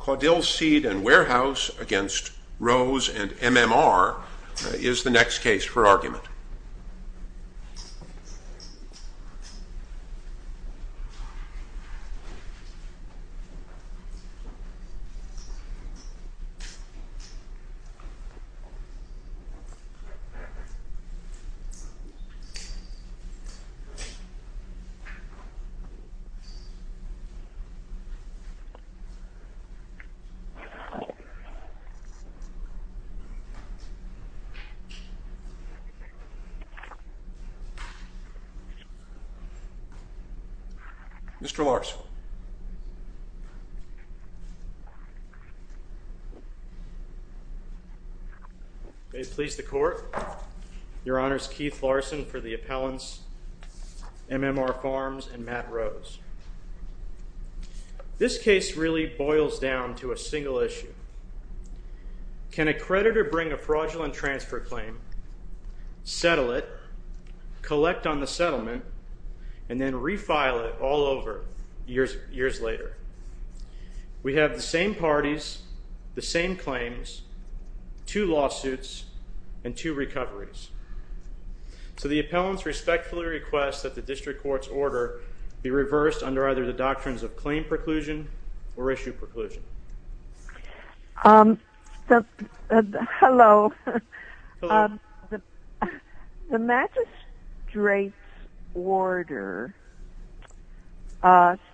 Caudill Seed & Warehouse against Rose & MMR is the next case for argument. Mr. Larson. May it please the Court, Your Honors Keith Larson for the appellants MMR Farms and Matt Rose. This case really boils down to a single issue. Can a creditor bring a fraudulent transfer claim, settle it, collect on the settlement, and then refile it all over years later? We have the same parties, the same claims, two lawsuits, and two recoveries. So the appellants respectfully request that the district court's order be reversed under either the doctrines of claim preclusion or issue preclusion. Hello. The magistrate's order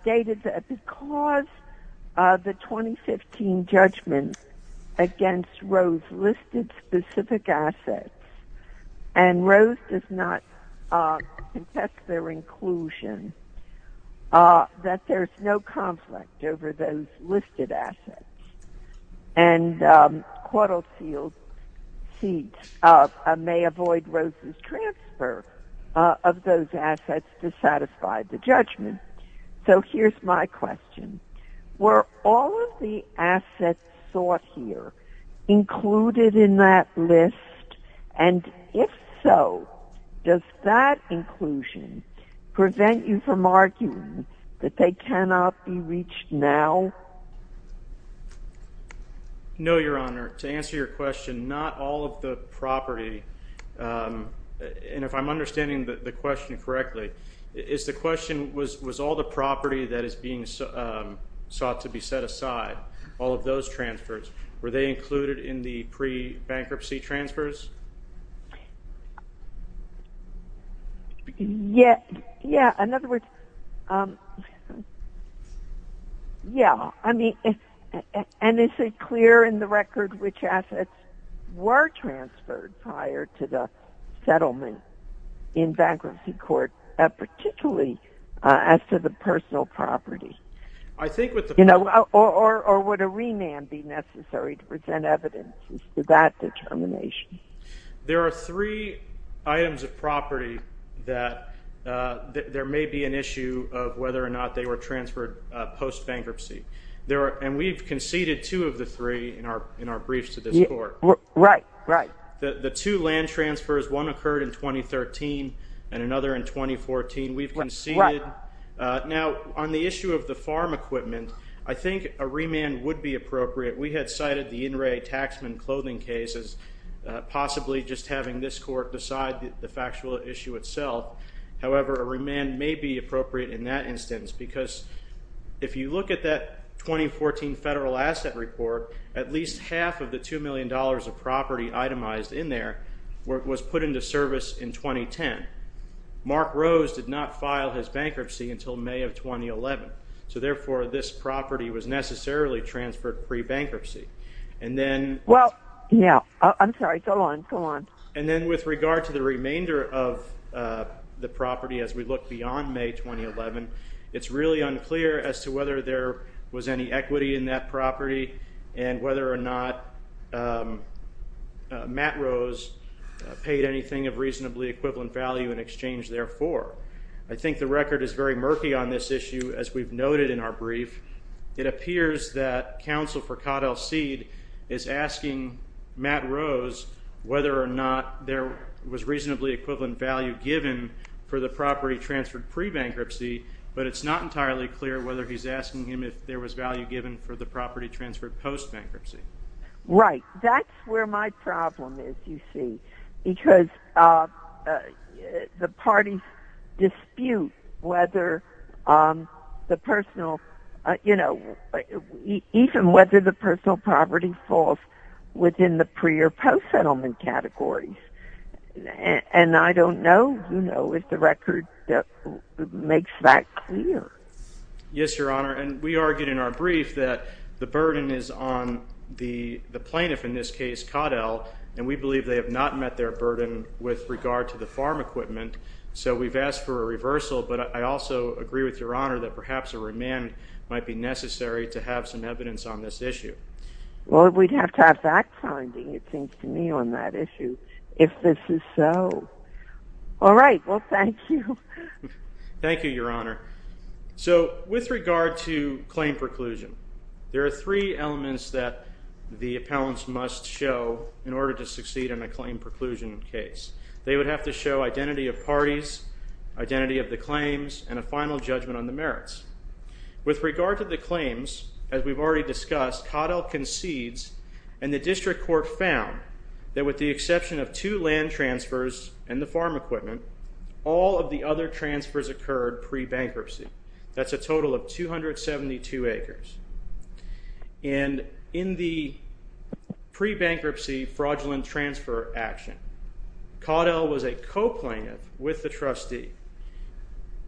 stated that because of the 2015 judgment against Rose listed specific assets and Rose does not contest their inclusion that there's no conflict over those listed assets and Caudill Seed may avoid Rose's transfer of those assets to satisfy the judgment. So here's my question. Were all of the assets sought here included in that list? And if so, does that inclusion prevent you from arguing that they cannot be reached now? No, Your Honor. To answer your question, not all of the property, and if I'm understanding the question correctly, is the question was all the property that is being sought to be set aside, all of those transfers, were they included in the pre-bankruptcy transfers? Yeah, in other words, yeah, I mean, and is it clear in the record which assets were transferred prior to the settlement in bankruptcy court, particularly as to the be necessary to present evidence to that determination? There are three items of property that there may be an issue of whether or not they were transferred post-bankruptcy. There are, and we've conceded two of the three in our briefs to this court. Right, right. The two land transfers, one occurred in 2013 and another in 2014, we've conceded. Now on the issue of the farm equipment, I had cited the in-ray taxman clothing cases, possibly just having this court decide the factual issue itself. However, a remand may be appropriate in that instance because if you look at that 2014 federal asset report, at least half of the two million dollars of property itemized in there was put into service in 2010. Mark Rose did not file his bankruptcy until May of 2011, so therefore this property was necessarily transferred pre-bankruptcy. And then, well, yeah, I'm sorry, go on, go on. And then with regard to the remainder of the property as we look beyond May 2011, it's really unclear as to whether there was any equity in that property and whether or not Matt Rose paid anything of reasonably equivalent value in exchange therefore. I think the record is very brief. It appears that counsel for Codd L. Seed is asking Matt Rose whether or not there was reasonably equivalent value given for the property transferred pre-bankruptcy, but it's not entirely clear whether he's asking him if there was value given for the property transferred post-bankruptcy. Right, that's where my problem is, you see, because the parties dispute whether the personal you know, even whether the personal property falls within the pre- or post-settlement categories. And I don't know, you know, if the record makes that clear. Yes, Your Honor, and we argued in our brief that the burden is on the the plaintiff, in this case Codd L., and we believe they have not met their burden with regard to the farm equipment, so we've asked for a reversal, but I also agree with Your Honor that perhaps a remand might be necessary to have some evidence on this issue. Well, we'd have to have fact-finding, it seems to me, on that issue, if this is so. All right, well, thank you. Thank you, Your Honor. So, with regard to claim preclusion, there are three elements that the appellants must show in order to succeed in a claim preclusion case. They would have to show identity of parties, identity of the claims, and a final judgment on the merits. With regard to the claims, as we've already discussed, Codd L. concedes, and the District Court found that with the exception of two land transfers and the farm equipment, all of the other transfers occurred pre-bankruptcy. That's a total of 272 acres. And in the pre-bankruptcy fraudulent transfer action, Codd L. was a coplainant with the trustee.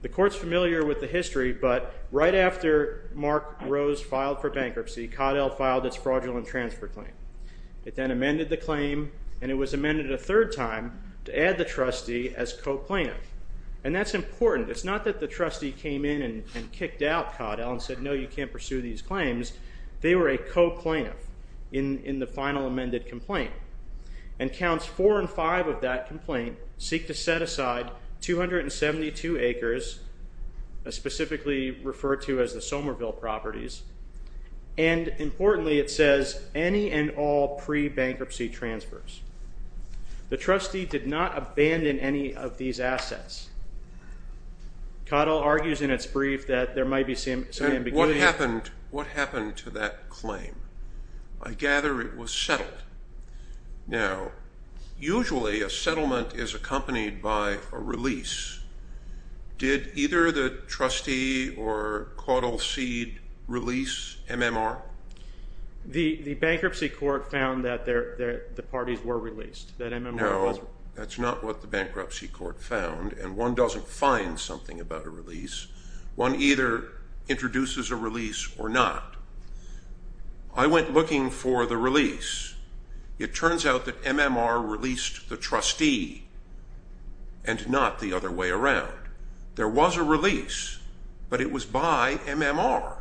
The Court's familiar with the history, but right after Mark Rose filed for bankruptcy, Codd L. filed its fraudulent transfer claim. It then amended the claim, and it was amended a third time to add the trustee as coplainant. And that's important. It's not that the trustee came in and kicked out Codd L. and said, no, you can't pursue these claims. They were a coplainant in the final amended complaint. And counts four and five of that complaint seek to set aside 272 acres, specifically referred to as the Somerville properties, and importantly, it says any and all pre-bankruptcy transfers. The trustee did not abandon any of these assets. Codd L. argues in its brief that there might be some ambiguity. What happened to that claim? I gather it was settled. Now, usually a settlement is accompanied by a release. Did either the trustee or Codd L. seed release MMR? The bankruptcy court found that the parties were released, that MMR was released. No, that's not what the bankruptcy court found, and one doesn't find something about a release. One either introduces a release or not. I went looking for the release. It turns out that MMR released the trustee and not the other way around. There was a release, but it was by MMR.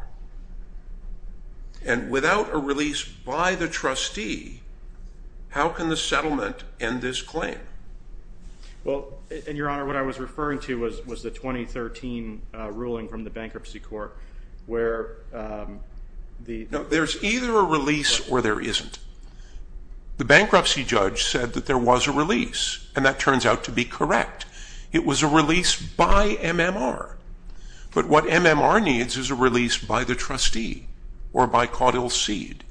And without a release by the trustee, how can the settlement end this claim? Well, your honor, what I was referring to was the 2013 ruling from the bankruptcy court where the... No, there's either a release or there isn't. The bankruptcy judge said that there was a release, and that turns out to be correct. It was a release by MMR, but what MMR needs is a release by the trustee or by Codd L. seed.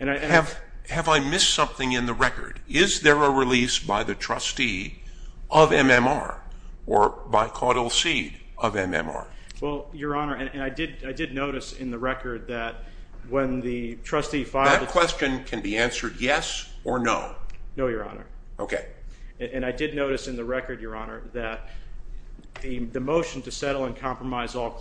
Have I missed something in the record? Is there a release by the trustee of MMR or by Codd L. seed of MMR? Well, your honor, and I did notice in the record that when the trustee filed... That question can be answered yes or no? No, your honor. Okay. And I did notice in the record, your honor, that the motion to settle and compromise all and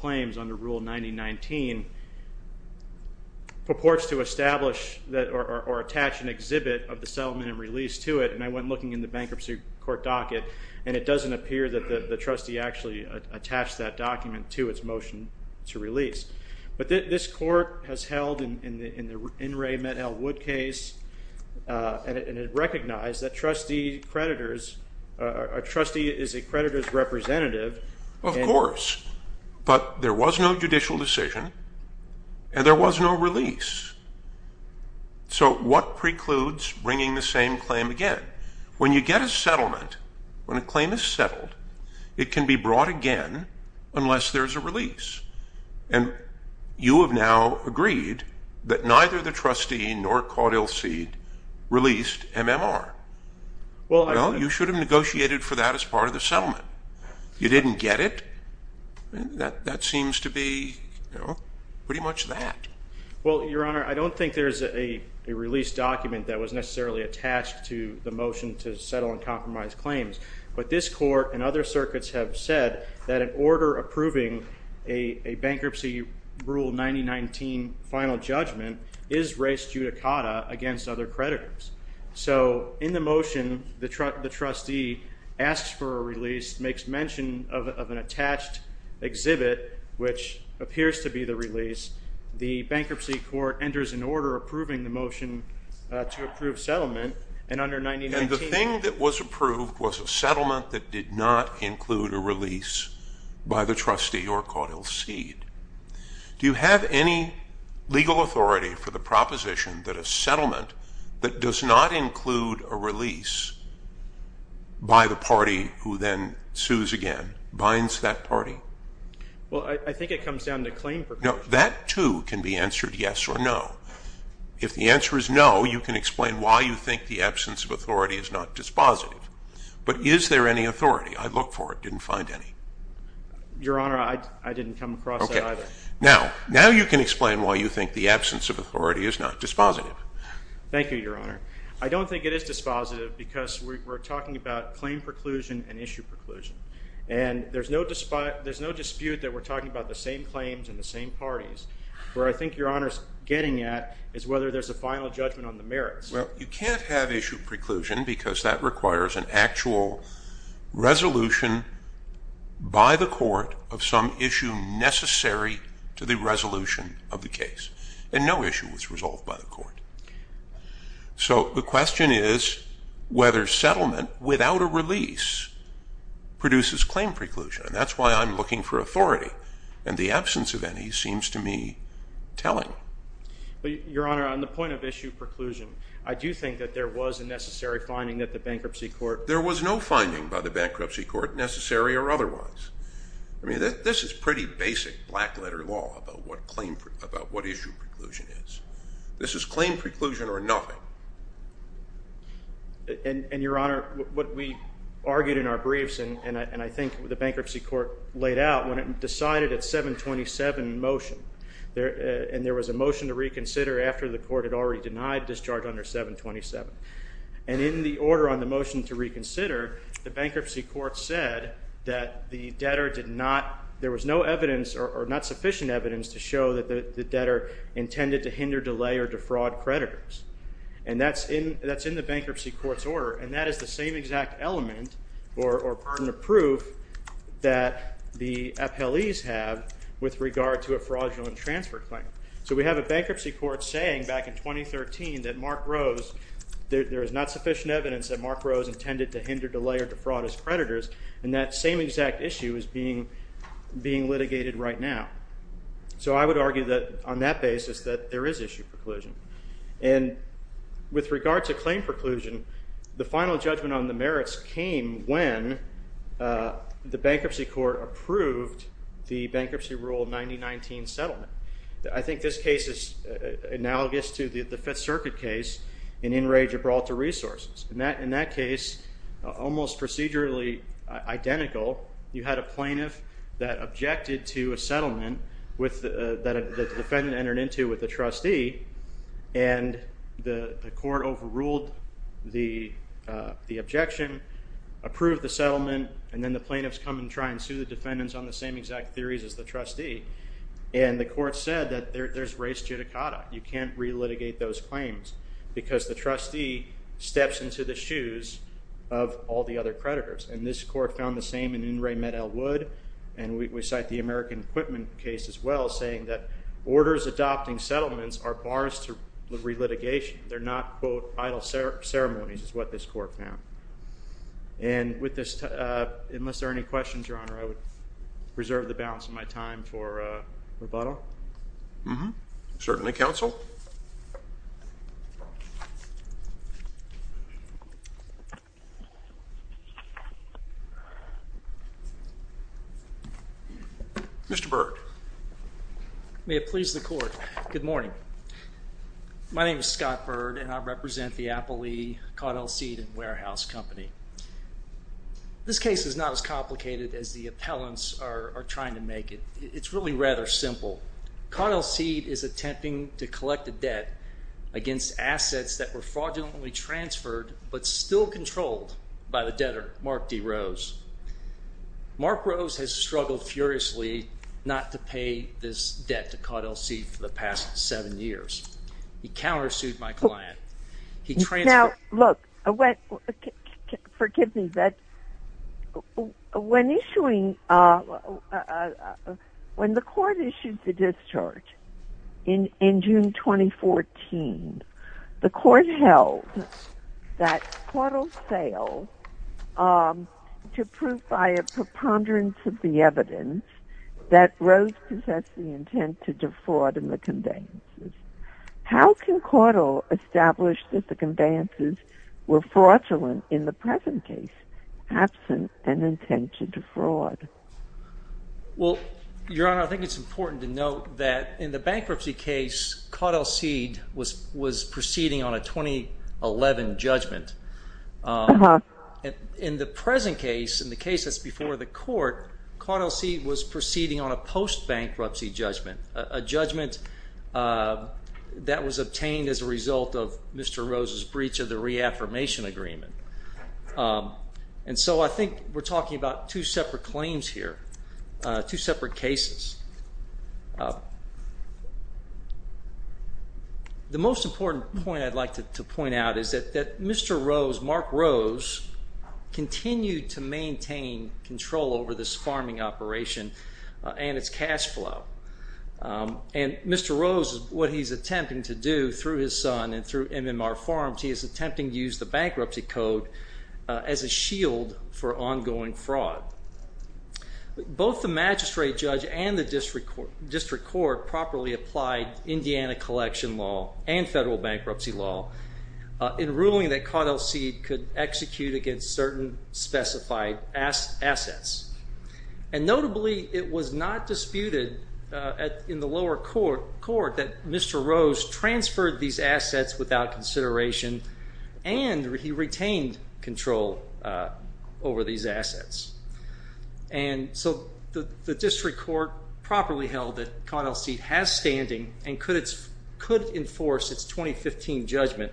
release to it, and I went looking in the bankruptcy court docket, and it doesn't appear that the trustee actually attached that document to its motion to release. But this court has held in the In re Met Elwood case, and it recognized that trustee creditors... A trustee is a creditor's representative. Of course, but there was no judicial decision, and there was no release. So what precludes bringing the same claim again? When you get a settlement, when a claim is settled, it can be brought again unless there's a release. And you have now agreed that neither the trustee nor Codd L. seed released MMR. Well, you should have negotiated for that as part of the settlement. You didn't get it. That seems to be, you know, pretty much that. Well, your honor, I don't think there's a release document that was necessarily attached to the motion to settle and compromise claims. But this court and other circuits have said that an order approving a bankruptcy rule 9019 final judgment is race judicata against other creditors. So in the motion, the trustee asks for a release, makes mention of an attached exhibit, which appears to be the release. The bankruptcy court enters an order approving the motion to approve settlement, and under 9019... And the thing that was approved was a settlement that did not include a release by the trustee or Codd L. seed. Do you have any legal authority for the proposition that a settlement that does not include a release by the party who then sues again binds that party? Well, I think it comes down to claim... No, that too can be answered yes or no. If the answer is no, you can explain why you think the absence of authority is not dispositive. But is there any authority? I looked for it, didn't find any. Your honor, I didn't come across that either. Now, now you can explain why you think the absence of authority is not dispositive. Thank you, your honor. I don't think it is dispositive because we're talking about claim preclusion and issue preclusion. And there's no dispute that we're talking about the same claims and the same parties. Where I think your honor's getting at is whether there's a final judgment on the merits. Well, you can't have issue preclusion because that requires an actual resolution by the court of some issue necessary to the resolution of the case. And no issue was released produces claim preclusion. And that's why I'm looking for authority. And the absence of any seems to me telling. Your honor, on the point of issue preclusion, I do think that there was a necessary finding that the bankruptcy court... There was no finding by the bankruptcy court necessary or otherwise. I mean, this is pretty basic black-letter law about what claim... about what issue preclusion is. This is claim preclusion or nothing. And, your honor, what we argued in our briefs and I think the bankruptcy court laid out when it decided at 727 motion there and there was a motion to reconsider after the court had already denied discharge under 727. And in the order on the motion to reconsider, the bankruptcy court said that the debtor did not... there was no evidence or not sufficient evidence to show that the debtor intended to hinder, delay, or defraud creditors. And that's in the bankruptcy court's order and that is the same exact element or part of the proof that the appellees have with regard to a fraudulent transfer claim. So we have a bankruptcy court saying back in 2013 that Mark Rose... there is not sufficient evidence that Mark Rose intended to hinder, delay, or defraud his creditors. And that same exact issue is being litigated right now. So I would argue that on that basis that there is issue preclusion. And with regard to claim preclusion, the final judgment on the merits came when the bankruptcy court approved the bankruptcy rule of 1919 settlement. I think this case is analogous to the Fifth Circuit case in Enrage or Brawl to Resources. In that case, almost procedurally identical, you had a plaintiff that objected to a settlement that the defendant entered into with the trustee and the court overruled the objection, approved the settlement, and then the plaintiffs come and try and sue the defendants on the same exact theories as the trustee. And the court said that there's race judicata. You can't re-litigate those claims because the trustee steps into the shoes of all the other creditors. And this court found the same in Enrage and Med-El Wood. And we cite the American Equipment case as well, saying that orders adopting settlements are bars to re-litigation. They're not, quote, idle ceremonies is what this court found. And with this, unless there are any questions, Your Honor, I would reserve the balance of my time for rebuttal. Mm-hmm. Certainly, counsel. Mr. Byrd. May it please the court. Good morning. My name is Scott Byrd and I represent the Applee Caudill Seed and Warehouse Company. This case is not as complicated as the appellants are trying to make it. It's really rather simple. Caudill Seed is attempting to collect a debt against assets that were fraudulently transferred but still controlled by the debtor, Mark D. Rose. Mark Rose has struggled furiously not to pay this debt to Caudill Seed for the past seven years. He counter-sued my client. He transferred... Now, look, forgive me, but when issuing, when the court issued the discharge in June 2014, the court held that Caudill failed to prove by a preponderance of the evidence that Rose possessed the intent to defraud in the conveyances. How can Caudill establish that the conveyances were fraudulent in the present case, absent an intent to defraud? Well, Your Honor, I think it's important to note that in the bankruptcy case, Caudill Seed was proceeding on a 2011 judgment. In the present case, in the case that's before the court, Caudill Seed was proceeding on a post-bankruptcy judgment, a judgment that was obtained as a result of Mr. Rose's breach of the reaffirmation agreement. And so I think we're talking about two separate claims here, two separate cases. The most important point I'd like to point out is that Mr. Rose, Mark Rose, continued to maintain control over this farming operation and its cash flow. And Mr. Rose, what he's attempting to do through his son and through MMR Farms, he is attempting to use the bankruptcy code as a shield for ongoing fraud. Both the magistrate judge and the district court properly applied Indiana collection law and federal bankruptcy law in ruling that Caudill Seed could execute against certain specified assets. And notably, it was not disputed in the lower court that Mr. Rose transferred these assets without consideration and he retained control over these assets. And so the district court properly held that Caudill Seed has standing and could enforce its 2015 judgment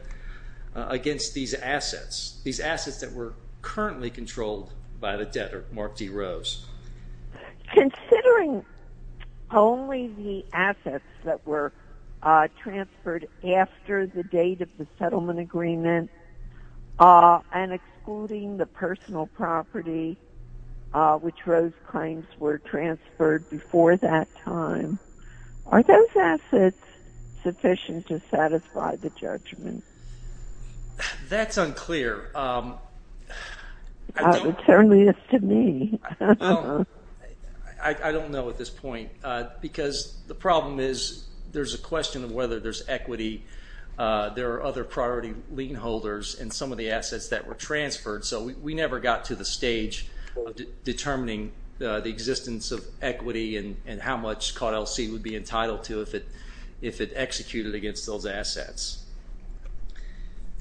against these assets, these assets that were currently controlled by the debtor, Mark D. Rose. Considering only the assets that were transferred after the date of the settlement agreement and excluding the personal property which Rose claims were transferred before that time, are those assets sufficient to satisfy the Well, I don't know at this point because the problem is there's a question of whether there's equity, there are other priority lien holders and some of the assets that were transferred, so we never got to the stage of determining the existence of equity and how much Caudill Seed would be entitled to if it executed against those assets.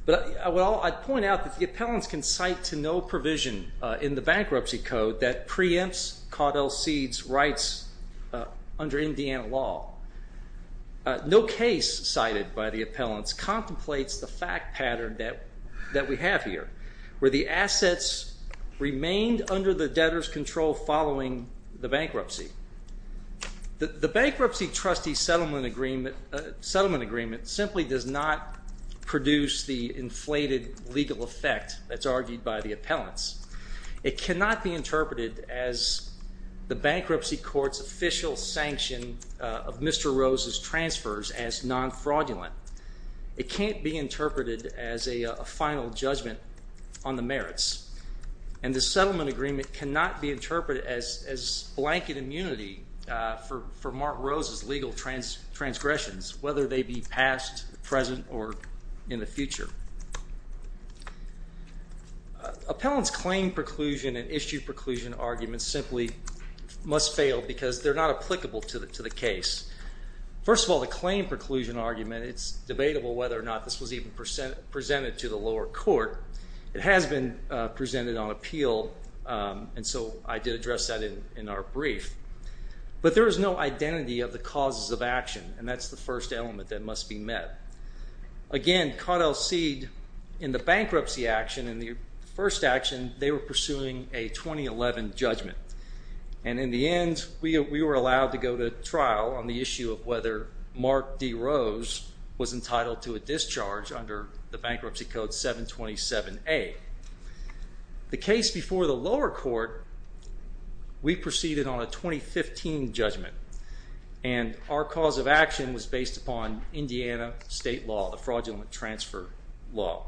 But well, I'd point out that the appellants can provision in the bankruptcy code that preempts Caudill Seed's rights under Indiana law. No case cited by the appellants contemplates the fact pattern that we have here, where the assets remained under the debtors control following the bankruptcy. The bankruptcy trustee settlement agreement settlement agreement simply does not produce the inflated legal effect that's in the appellants. It cannot be interpreted as the bankruptcy court's official sanction of Mr. Rose's transfers as non-fraudulent. It can't be interpreted as a final judgment on the merits and the settlement agreement cannot be interpreted as blanket immunity for Mark Rose's legal transgressions, whether they be past, present, or in the future. Appellants claim preclusion and issue preclusion arguments simply must fail because they're not applicable to the case. First of all, the claim preclusion argument, it's debatable whether or not this was even presented to the lower court. It has been presented on appeal and so I did address that in our brief, but there is no identity of the causes of action and that's the first element that must be met. Again, Caudill seed in the bankruptcy action, in the first action, they were pursuing a 2011 judgment and in the end we were allowed to go to trial on the issue of whether Mark D. Rose was entitled to a discharge under the Bankruptcy Code 727A. The case before the lower court, we proceeded on a 2015 judgment and our cause of action was based upon Indiana state law, the fraudulent transfer law.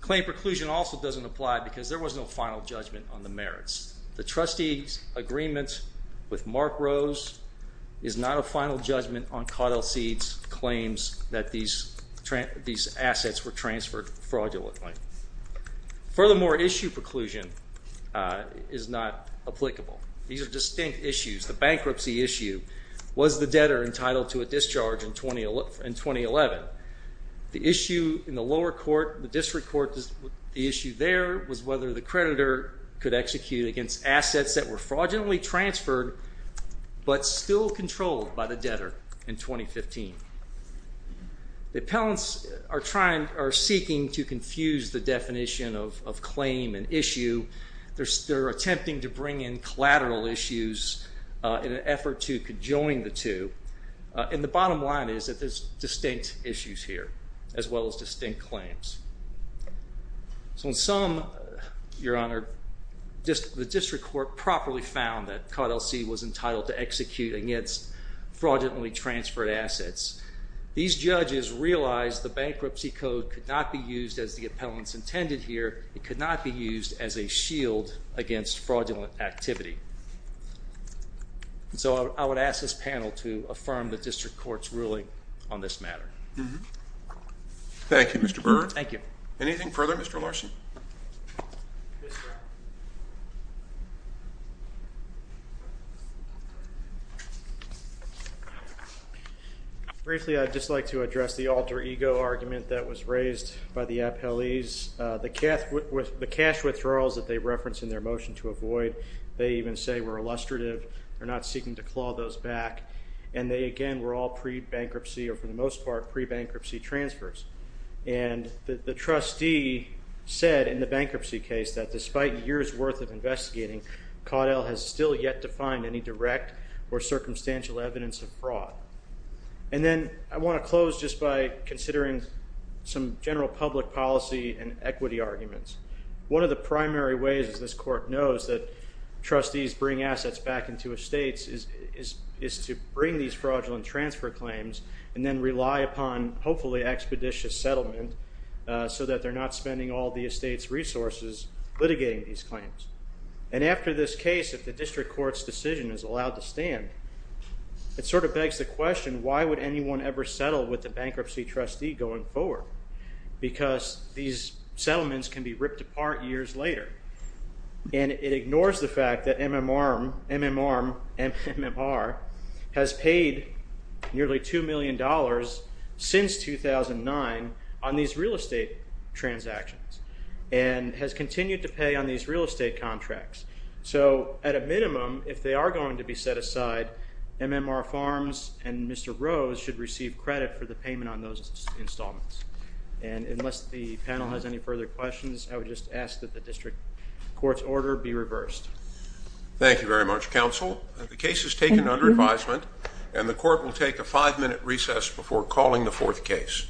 Claim preclusion also doesn't apply because there was no final judgment on the merits. The trustee's agreement with Mark Rose is not a final judgment on Caudill Seed's claims that these assets were transferred fraudulently. Furthermore, issue preclusion is not applicable. These are distinct issues. The bankruptcy issue, was the debtor entitled to a discharge in 2011? The issue in the lower court, the district court, the issue there was whether the creditor could execute against assets that were fraudulently transferred but still controlled by the debtor in 2015. The appellants are seeking to confuse the definition of claim and issue. They're attempting to bring in collateral issues in an effort to conjoin the two and the bottom line is that there's distinct issues here as well as distinct claims. So in sum, Your Honor, just the district court properly found that Caudill Seed was entitled to execute against fraudulently transferred assets. These cannot be used as the appellants intended here. It could not be used as a shield against fraudulent activity. So I would ask this panel to affirm the district court's ruling on this matter. Thank you, Mr. Brewer. Thank you. Anything further, Mr. Larson? Briefly, I'd just like to address the alter-ego argument that was raised by the appellees. The cash withdrawals that they referenced in their motion to avoid, they even say were illustrative. They're not seeking to claw those back and they again were all pre-bankruptcy or for the most part pre-bankruptcy transfers. And the trustee said in the bankruptcy case that despite years worth of investigating, Caudill has still yet to find any direct or circumstantial evidence of fraud. And then I want to close just by considering some general public policy and equity arguments. One of the primary ways this court knows that trustees bring assets back into estates is to bring these fraudulent transfer claims and then rely upon hopefully expeditious settlement so that they're not spending all the estate's resources litigating these claims. And after this case, if the district court's decision is allowed to stand, it sort of begs the question, why would anyone ever settle with the bankruptcy trustee going forward? Because these settlements can be ripped apart years later. And it ignores the fact that MMR has paid nearly two million dollars since 2009 on these real estate transactions and has continued to pay on these real estate contracts. So at a minimum, if they are going to be set aside, MMR Farms and Mr. Rose should receive credit for the payment on those installments. And unless the panel has any further questions, I would just ask that the district court's order be reversed. Thank you very much, counsel. The case is taken under advisement and the court will take a five-minute recess before calling the fourth case.